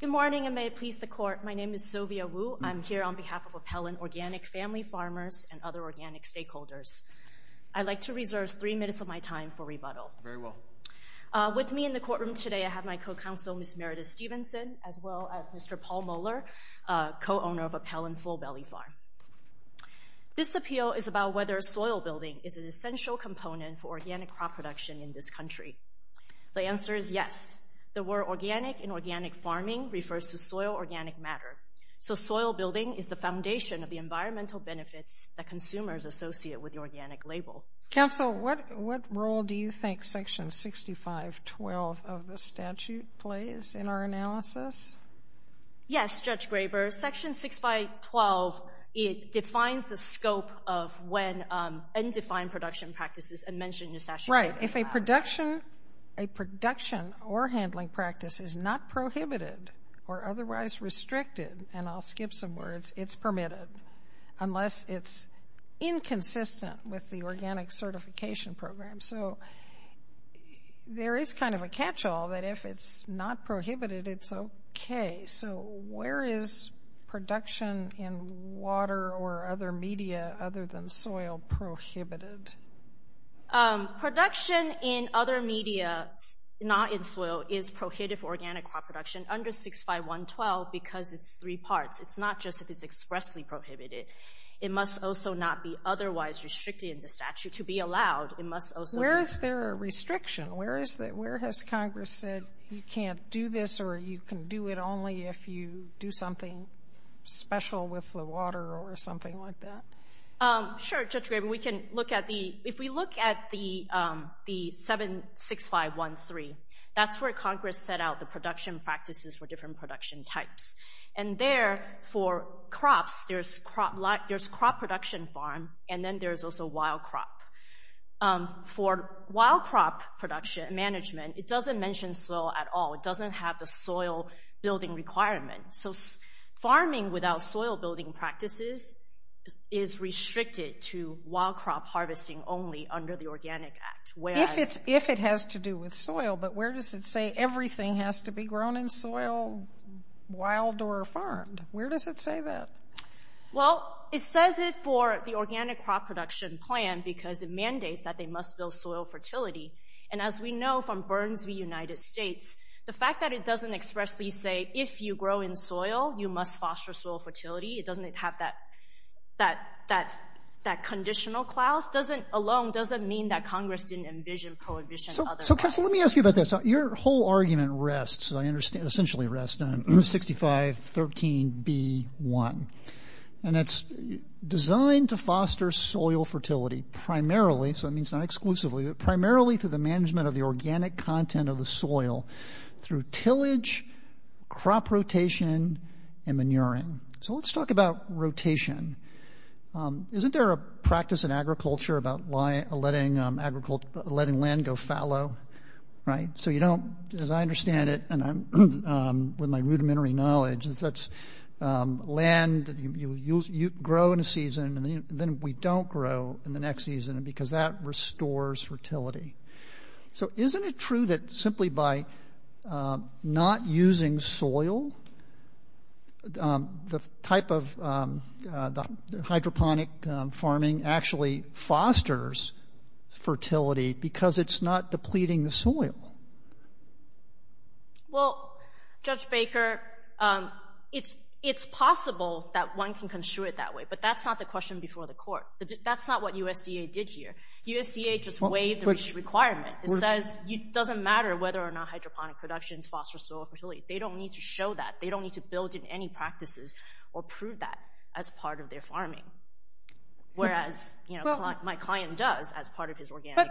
Good morning and may it please the court. My name is Sylvia Wu. I'm here on behalf of Appellant Organic Family Farmers and other organic stakeholders. I'd like to reserve three minutes of my time for rebuttal. Very well. With me in the courtroom today, I have my co-counsel, Ms. Meredith Stevenson, as well as Mr. Paul Moeller, co-owner of Appellant Full Belly Farm. This appeal is about whether soil building is an essential component for organic crop production in this country. The answer is yes. The word organic and organic farming refers to soil organic matter. So soil building is the foundation of the environmental benefits that consumers associate with the organic label. Counsel, what role do you think Section 6512 of the statute plays in our analysis? Yes, Judge Graber, Section 6512, it defines the scope of when undefined production practices are mentioned in the statute. Right. If a production or handling practice is not prohibited or otherwise restricted, and I'll skip some words, it's permitted unless it's inconsistent with the organic certification program. So there is kind of a catch-all that if it's not prohibited, it's okay. So where is production in water or other media other than soil prohibited? Production in other media, not in soil, is prohibited for organic crop production under 65112 because it's three parts. It's not just if it's expressly prohibited. It must also not be otherwise restricted in the statute. To be allowed, it must also be... Where is there a restriction? Where has Congress said you can't do this or you can do it only if you do something special with the water or something like that? Sure, Judge Graber, we can look at the... If we look at the 76513, that's where Congress set out the production practices for different production types. And there, for crops, there's crop production farm and then there's also wild crop. For wild crop production management, it doesn't mention soil at all. It doesn't have the soil building requirement. Farming without soil building practices is restricted to wild crop harvesting only under the Organic Act. If it has to do with soil, but where does it say everything has to be grown in soil, wild or farmed? Where does it say that? Well, it says it for the Organic Crop Production Plan because it mandates that they must build soil fertility. And as we know from Burns v. United States, the fact that it doesn't expressly say, if you grow in soil, you must foster soil fertility. It doesn't have that conditional clause. Alone, it doesn't mean that Congress didn't envision prohibition of other rights. So, Crystal, let me ask you about this. Your whole argument rests, I understand, essentially rests on 6513B1. And it's designed to foster soil fertility primarily, so that means not exclusively, but primarily through the management of the organic content of the soil through tillage, crop rotation, and manuring. So, let's talk about rotation. Isn't there a practice in agriculture about letting land go fallow, right? So, you don't, as I understand it, and I'm with my rudimentary knowledge, that's land you grow in a season and then we don't grow in the next season because that restores fertility. So, isn't it true that simply by not using soil, the type of hydroponic farming actually fosters fertility because it's not depleting the soil? Well, Judge Baker, it's possible that one can construe it that way, but that's not the question before the court. That's not what USDA did here. USDA just waived the requirement. It says it doesn't matter whether or not hydroponic production fosters soil fertility. They don't need to show that. They don't need to build in any practices or prove that as part of their farming, whereas my client does as part of his organic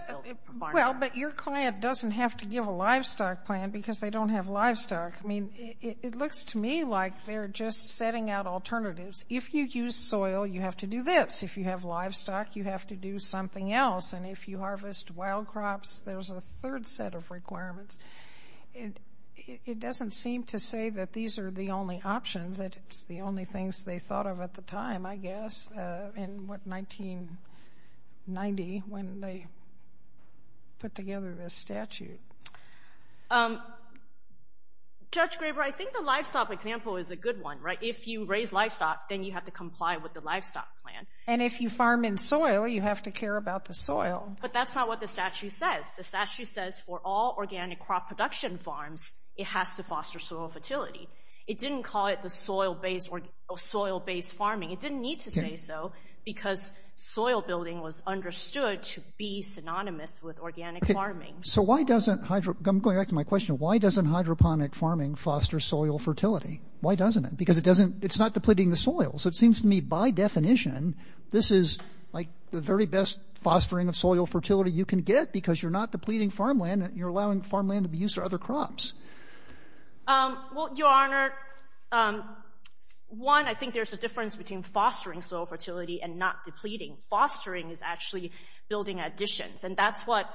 farm. Well, but your client doesn't have to give a livestock plan because they don't have livestock. I mean, it looks to me like they're just setting out alternatives. If you use soil, you have to do this. If you have livestock, you have to do something else. And if you harvest wild crops, there's a third set of requirements. It doesn't seem to say that these are the only options. It's the only things they thought of at the time, I guess, in, what, 1990 when they put together this statute. Judge Graber, I think the livestock example is a good one, right? If you raise livestock, then you have to comply with the livestock plan. And if you farm in soil, you have to care about the soil. But that's not what the statute says. The statute says for all organic crop production farms, it has to foster soil fertility. It didn't call it the soil-based farming. It didn't need to say so because soil building was understood to be synonymous with organic farming. So why doesn't, going back to my question, why doesn't hydroponic farming foster soil fertility? Why doesn't it? Because it's not depleting the soil. So it seems to me, by definition, this is like the very best fostering of soil fertility you can get because you're not depleting farmland. You're allowing farmland to be used for other crops. Well, Your Honor, one, I think there's a difference between fostering soil fertility and not depleting. Fostering is actually building additions, and that's what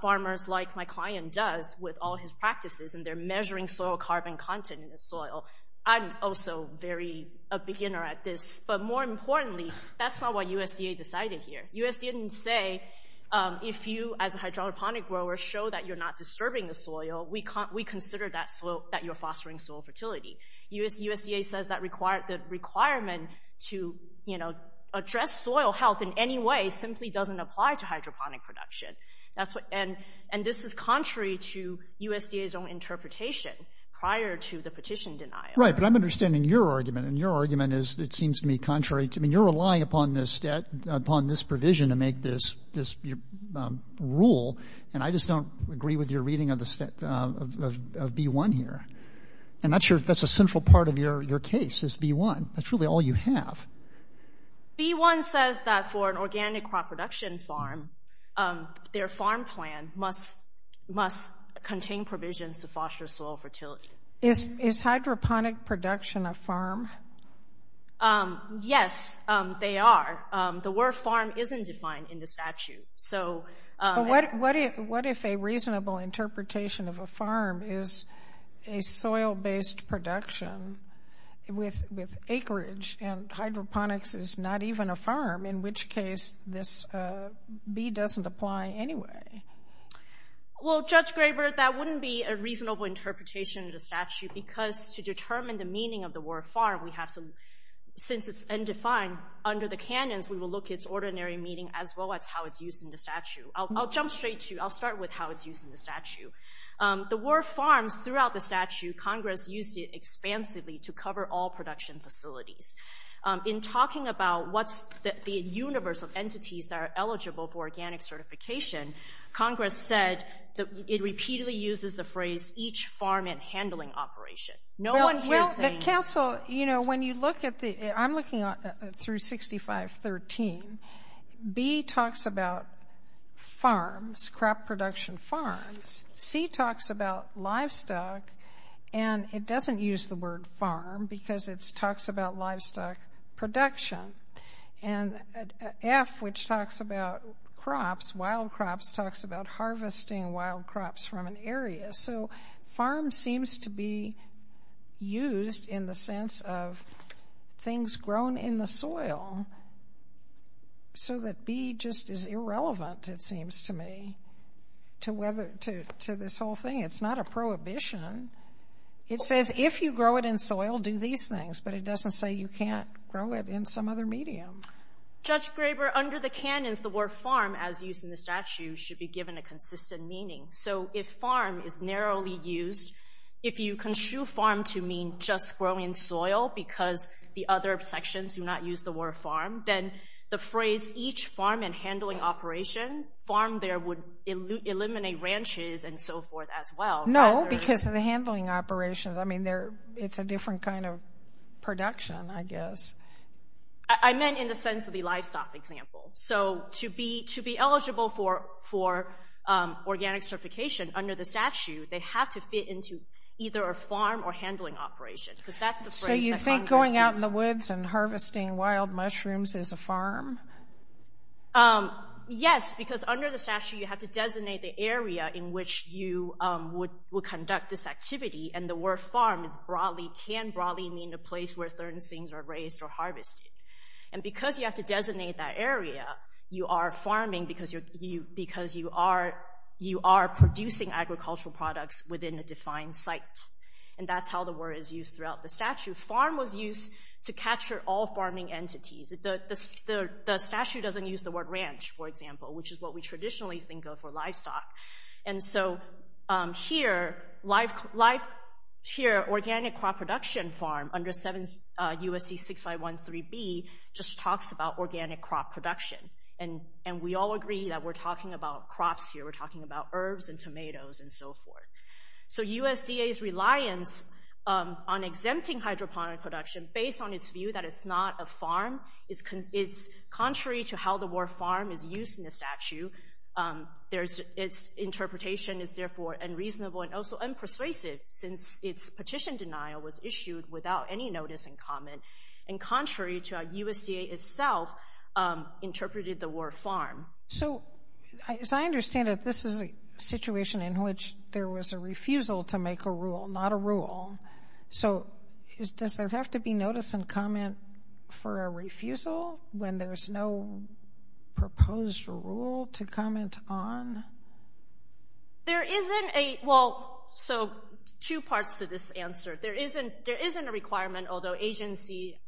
farmers like my client does with all his practices, and they're measuring soil carbon content in the soil. I'm also a beginner at this. But more importantly, that's not what USDA decided here. USDA didn't say if you, as a hydroponic grower, show that you're not disturbing the soil, we consider that you're fostering soil fertility. USDA says the requirement to address soil health in any way simply doesn't apply to hydroponic production. And this is contrary to USDA's own interpretation prior to the petition denial. Right, but I'm understanding your argument, and your argument is, it seems to me, contrary. I mean, you're relying upon this provision to make this rule, and I just don't agree with your reading of B-1 here. And that's a central part of your case is B-1. That's really all you have. B-1 says that for an organic crop production farm, their farm plan must contain provisions to foster soil fertility. Is hydroponic production a farm? Yes, they are. The word farm isn't defined in the statute. But what if a reasonable interpretation of a farm is a soil-based production with acreage, and hydroponics is not even a farm, in which case this B doesn't apply anyway? Well, Judge Graber, that wouldn't be a reasonable interpretation of the statute because to determine the meaning of the word farm, since it's undefined under the canyons, we will look at its ordinary meaning as well as how it's used in the statute. I'll jump straight to it. I'll start with how it's used in the statute. The word farms, throughout the statute, Congress used it expansively to cover all production facilities. In talking about what's the universe of entities that are eligible for organic certification, Congress said it repeatedly uses the phrase each farm and handling operation. No one here is saying... Well, counsel, you know, when you look at the... I'm looking through 6513. B talks about farms, crop production farms, C talks about livestock, and it doesn't use the word farm because it talks about livestock production. And F, which talks about crops, wild crops, talks about harvesting wild crops from an area. So farm seems to be used in the sense of things grown in the soil so that B just is irrelevant, it seems to me, to this whole thing. It's not a prohibition. It says if you grow it in soil, do these things, but it doesn't say you can't grow it in some other medium. Judge Graber, under the canons, the word farm, as used in the statute, should be given a consistent meaning. So if farm is narrowly used, if you construe farm to mean just growing soil because the other sections do not use the word farm, then the phrase each farm and handling operation, farm there would eliminate ranches and so forth as well. No, because of the handling operations. I mean, it's a different kind of production, I guess. I meant in the sense of the livestock example. So to be eligible for organic certification under the statute, they have to fit into either a farm or handling operation because that's the phrase that Congress used. and harvesting wild mushrooms is a farm? Yes, because under the statute, you have to designate the area in which you would conduct this activity. And the word farm can broadly mean a place where certain things are raised or harvested. And because you have to designate that area, you are farming because you are producing agricultural products within a defined site. And that's how the word is used throughout the statute. Farm was used to capture all farming entities. The statute doesn't use the word ranch, for example, which is what we traditionally think of for livestock. And so here, organic crop production farm under USC 6513B just talks about organic crop production. And we all agree that we're talking about crops here. We're talking about herbs and tomatoes and so forth. So USDA's reliance on exempting hydroponic production based on its view that it's not a farm, it's contrary to how the word farm is used in the statute. Its interpretation is therefore unreasonable and also unpersuasive since its petition denial was issued without any notice in comment and contrary to how USDA itself interpreted the word farm. So as I understand it, this is a situation in which there was a refusal to make a rule, not a rule. So does there have to be notice and comment for a refusal when there's no proposed rule to comment on? There isn't a, well, so two parts to this answer. There isn't a requirement, although agency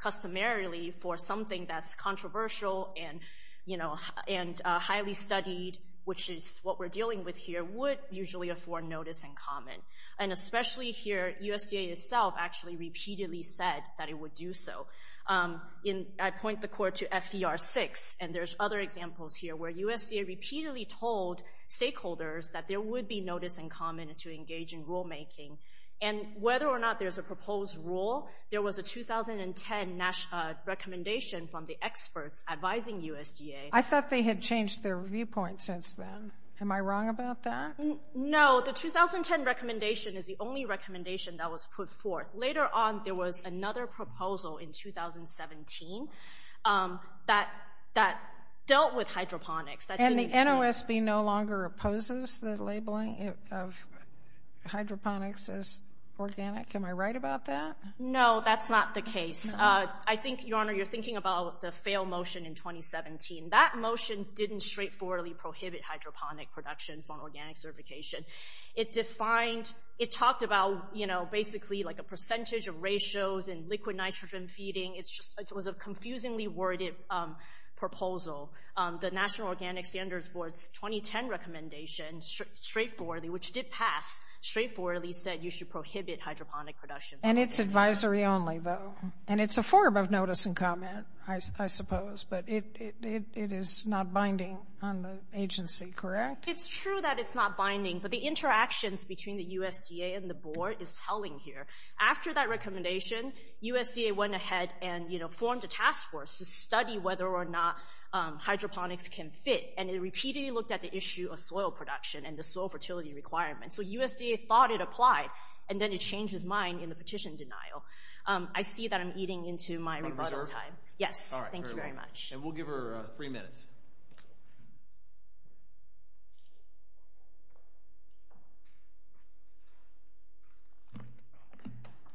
customarily for something that's controversial and highly studied, which is what we're dealing with here, would usually afford notice and comment. And especially here, USDA itself actually repeatedly said that it would do so. I point the court to FER6, and there's other examples here where USDA repeatedly told stakeholders that there would be notice and comment to engage in rulemaking. And whether or not there's a proposed rule, there was a 2010 recommendation from the experts advising USDA. I thought they had changed their viewpoint since then. Am I wrong about that? No, the 2010 recommendation is the only recommendation that was put forth. Later on, there was another proposal in 2017 that dealt with hydroponics. And the NOSB no longer opposes the labeling of hydroponics as organic. Am I right about that? No, that's not the case. I think, Your Honor, you're thinking about the failed motion in 2017. That motion didn't straightforwardly prohibit hydroponic production from organic certification. It defined... It talked about, basically, a percentage of ratios in liquid nitrogen feeding. It was a confusingly worded proposal. The National Organic Standards Board's 2010 recommendation, which did pass, straightforwardly said you should prohibit hydroponic production. And it's advisory only, though. And it's a form of notice and comment, I suppose. But it is not binding on the agency, correct? It's true that it's not binding, but the interactions between the USDA and the Board is telling here. After that recommendation, USDA went ahead and formed a task force to study whether or not hydroponics can fit. And it repeatedly looked at the issue of soil production and the soil fertility requirements. So USDA thought it applied, and then it changed its mind in the petition denial. I see that I'm eating into my rebuttal time. Yes, thank you very much. And we'll give her three minutes.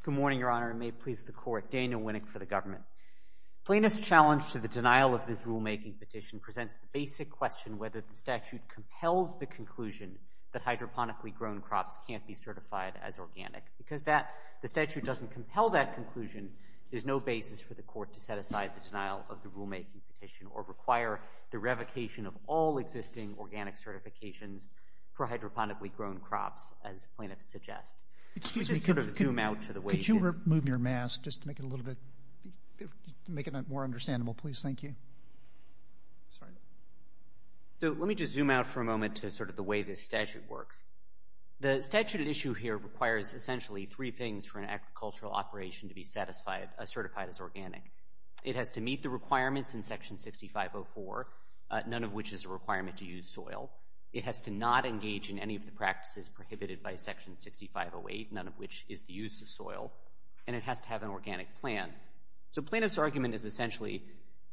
Good morning, Your Honor, and may it please the court. Daniel Winnick for the government. Plaintiff's challenge to the denial of this rulemaking petition presents the basic question whether the statute compels the conclusion that hydroponically grown crops can't be certified as organic. Because the statute doesn't compel that conclusion, there's no basis for the court to set aside the denial of the rulemaking petition or require the revocation of all existing organic certification for hydroponically grown crops, as plaintiffs suggest. Excuse me. Could you move your mask just to make it a little bit... make it more understandable, please? Thank you. Sorry. So let me just zoom out for a moment to sort of the way this statute works. The statute at issue here requires essentially three things for an agricultural operation to be certified as organic. It has to meet the requirements in Section 6504, none of which is a requirement to use soil. It has to not engage in any of the practices prohibited by Section 6508, none of which is the use of soil. And it has to have an organic plan. So plaintiff's argument is essentially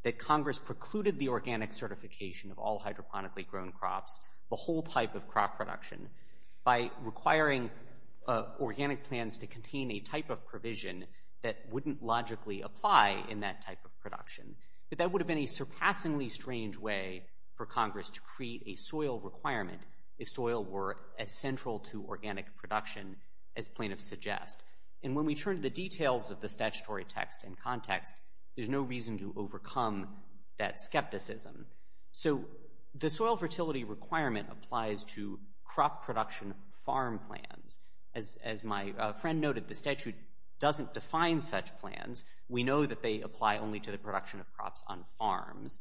that Congress precluded the organic certification of all hydroponically grown crops, the whole type of crop production, by requiring organic plans to contain a type of provision that wouldn't logically apply in that type of production. But that would have been a surpassingly strange way for Congress to create a soil requirement if soil were as central to organic production as plaintiffs suggest. And when we turn to the details of the statutory text and context, there's no reason to overcome that skepticism. So the soil fertility requirement applies to crop production farm plans. As my friend noted, the statute doesn't define such plans. We know that they apply only to the production of crops on farms.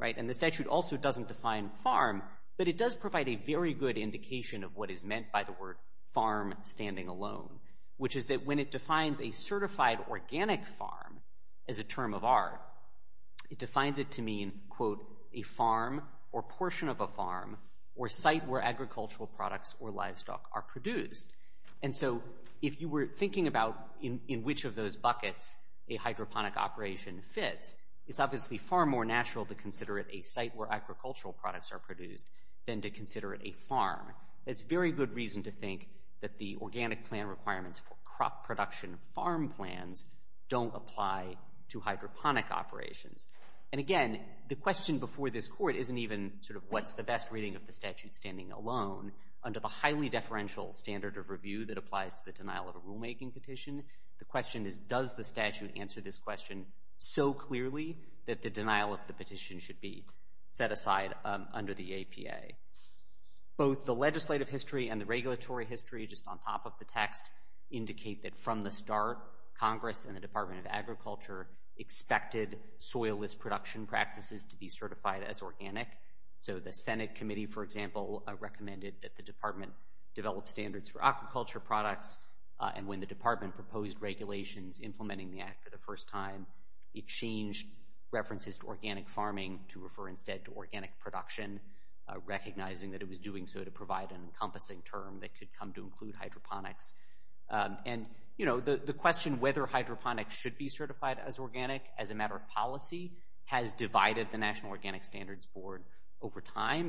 And the statute also doesn't define farm, but it does provide a very good indication of what is meant by the word farm standing alone, which is that when it defines a certified organic farm as a term of art, it defines it to mean, quote, a farm or portion of a farm or site where agricultural products or livestock are produced. And so if you were thinking about in which of those buckets a hydroponic operation fits, it's obviously far more natural to consider it a site where agricultural products are produced than to consider it a farm. That's very good reason to think that the organic plan requirements for crop production farm plans don't apply to hydroponic operations. And again, the question before this court isn't even sort of what's the best reading of the statute standing alone. Under the highly deferential standard of review that applies to the denial of a rulemaking petition, the question is does the statute answer this question so clearly that the denial of the petition should be set aside under the APA? Both the legislative history and the regulatory history, just on top of the text, indicate that from the start, Congress and the Department of Agriculture expected soilless production practices to be certified as organic. So the Senate committee, for example, recommended that the department develop standards for aquaculture products, and when the department proposed regulations implementing the act for the first time, it changed references to organic farming to refer instead to organic production, recognizing that it was doing so to provide an encompassing term that could come to include hydroponics. And, you know, the question whether hydroponics should be certified as organic as a matter of policy has divided the National Organic Standards Board over time.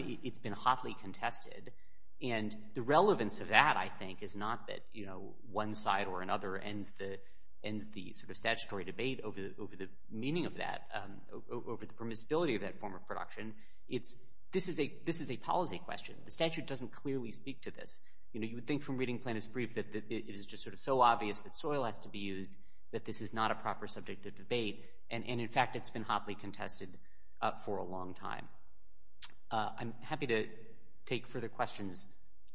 And the relevance of that, I think, is not that, you know, one side or another ends the sort of statutory debate over the meaning of that, over the permissibility of that form of production. This is a policy question. The statute doesn't clearly speak to this. You know, you would think from reading Plano's brief that it is just sort of so obvious that soil has to be used that this is not a proper subject of debate, and, in fact, it's been hotly contested for a long time. I'm happy to take further questions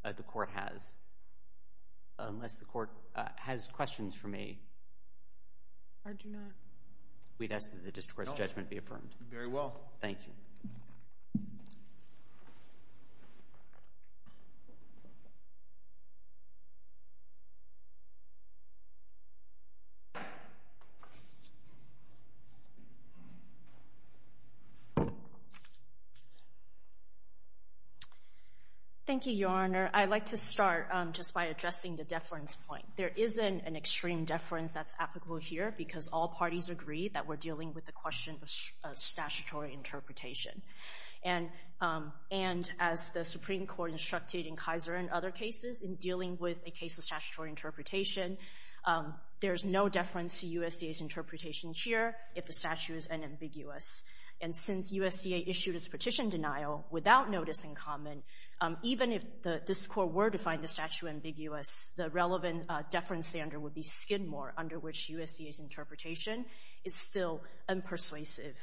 the Court has, unless the Court has questions for me. I do not. We'd ask that the district court's judgment be affirmed. Very well. Thank you. Thank you, Your Honor. I'd like to start just by addressing the deference point. There isn't an extreme deference that's applicable here because all parties agree that we're dealing with the question of statutory interpretation. And as the Supreme Court instructed in Kaiser and other cases in dealing with a case of statutory interpretation, there's no deference to USDA's interpretation here if the statute is unambiguous. And since USDA issued its petition denial without notice in common, even if this Court were to find the statute ambiguous, the relevant deference standard would be Skidmore, under which USDA's interpretation is still unpersuasive.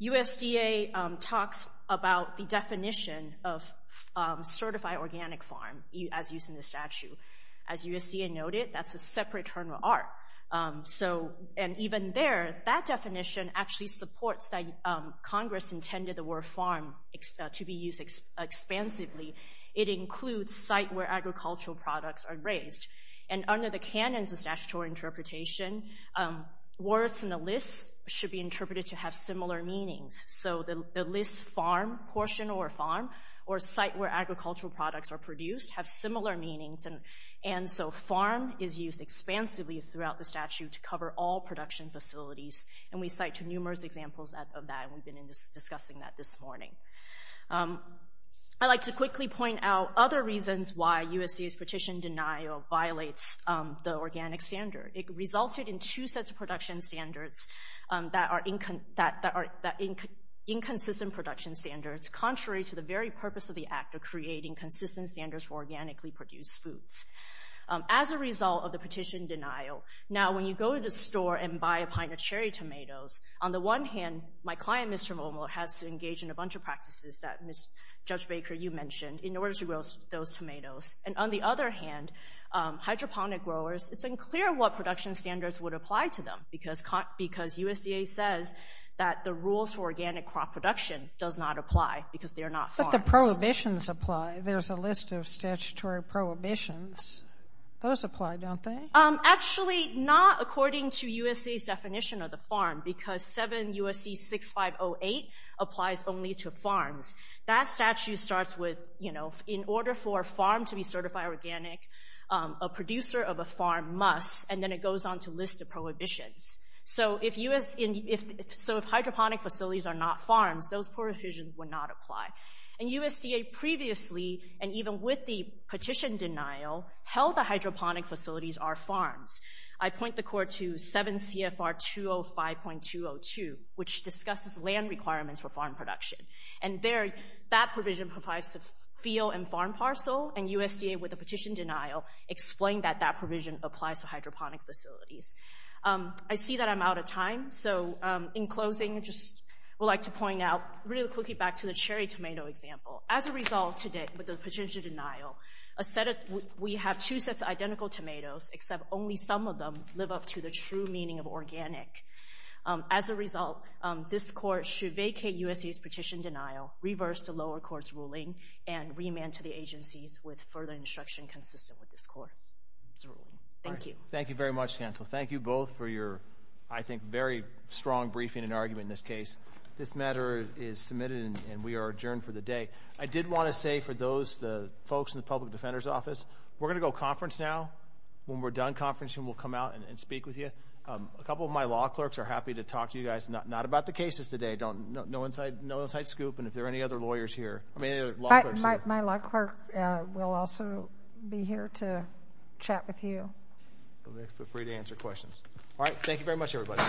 USDA talks about the definition of certified organic farm as used in the statute. As USDA noted, that's a separate term of art. So, and even there, that definition actually supports that Congress intended the word farm to be used expansively. It includes site where agricultural products are raised. And under the canons of statutory interpretation, words in the list should be interpreted to have similar meanings. So the list farm, portion or farm, or site where agricultural products are produced have similar meanings. And so farm is used expansively throughout the statute to cover all production facilities. And we cite numerous examples of that, and we've been discussing that this morning. I'd like to quickly point out other reasons why USDA's petition denial violates the organic standard. It resulted in two sets of production standards that are inconsistent production standards contrary to the very purpose of the act of creating consistent standards for organically produced foods. As a result of the petition denial, now when you go to the store and buy a pint of cherry tomatoes, on the one hand, my client, Mr. Momoa, has to engage in a bunch of practices that Judge Baker, you mentioned, in order to grow those tomatoes. And on the other hand, hydroponic growers, it's unclear what production standards would apply to them because USDA says that the rules for organic crop production does not apply because they're not farms. But the prohibitions apply. There's a list of statutory prohibitions. Those apply, don't they? Actually, not according to USDA's definition of the farm because 7 U.S.C. 6508 applies only to farms. That statute starts with, you know, in order for a farm to be certified organic, a producer of a farm must, and then it goes on to list the prohibitions. So if hydroponic facilities are not farms, those prohibitions would not apply. And USDA previously, and even with the petition denial, held that hydroponic facilities are farms. I point the court to 7 CFR 205.202, which discusses land requirements for farm production. And there, that provision applies to field and farm parcel, and USDA, with the petition denial, explained that that provision applies to hydroponic facilities. I see that I'm out of time, so in closing, I'd just like to point out, really quickly, back to the cherry tomato example. As a result, today, with the petition denial, we have two sets of identical tomatoes, except only some of them live up to the true meaning of organic. As a result, this court should vacate USDA's petition denial, reverse the lower court's ruling, and remand to the agencies with further instruction consistent with this court's ruling. Thank you. Thank you very much, counsel. Thank you both for your, I think, very strong briefing and argument in this case. This matter is submitted, and we are adjourned for the day. I did want to say, for those folks in the Public Defender's Office, we're going to go conference now. When we're done conferencing, we'll come out and speak with you. A couple of my law clerks are happy to talk to you guys, not about the cases today. No inside scoop, and if there are any other lawyers here. My law clerk will also be here to chat with you. Feel free to answer questions. All right, thank you very much, everybody.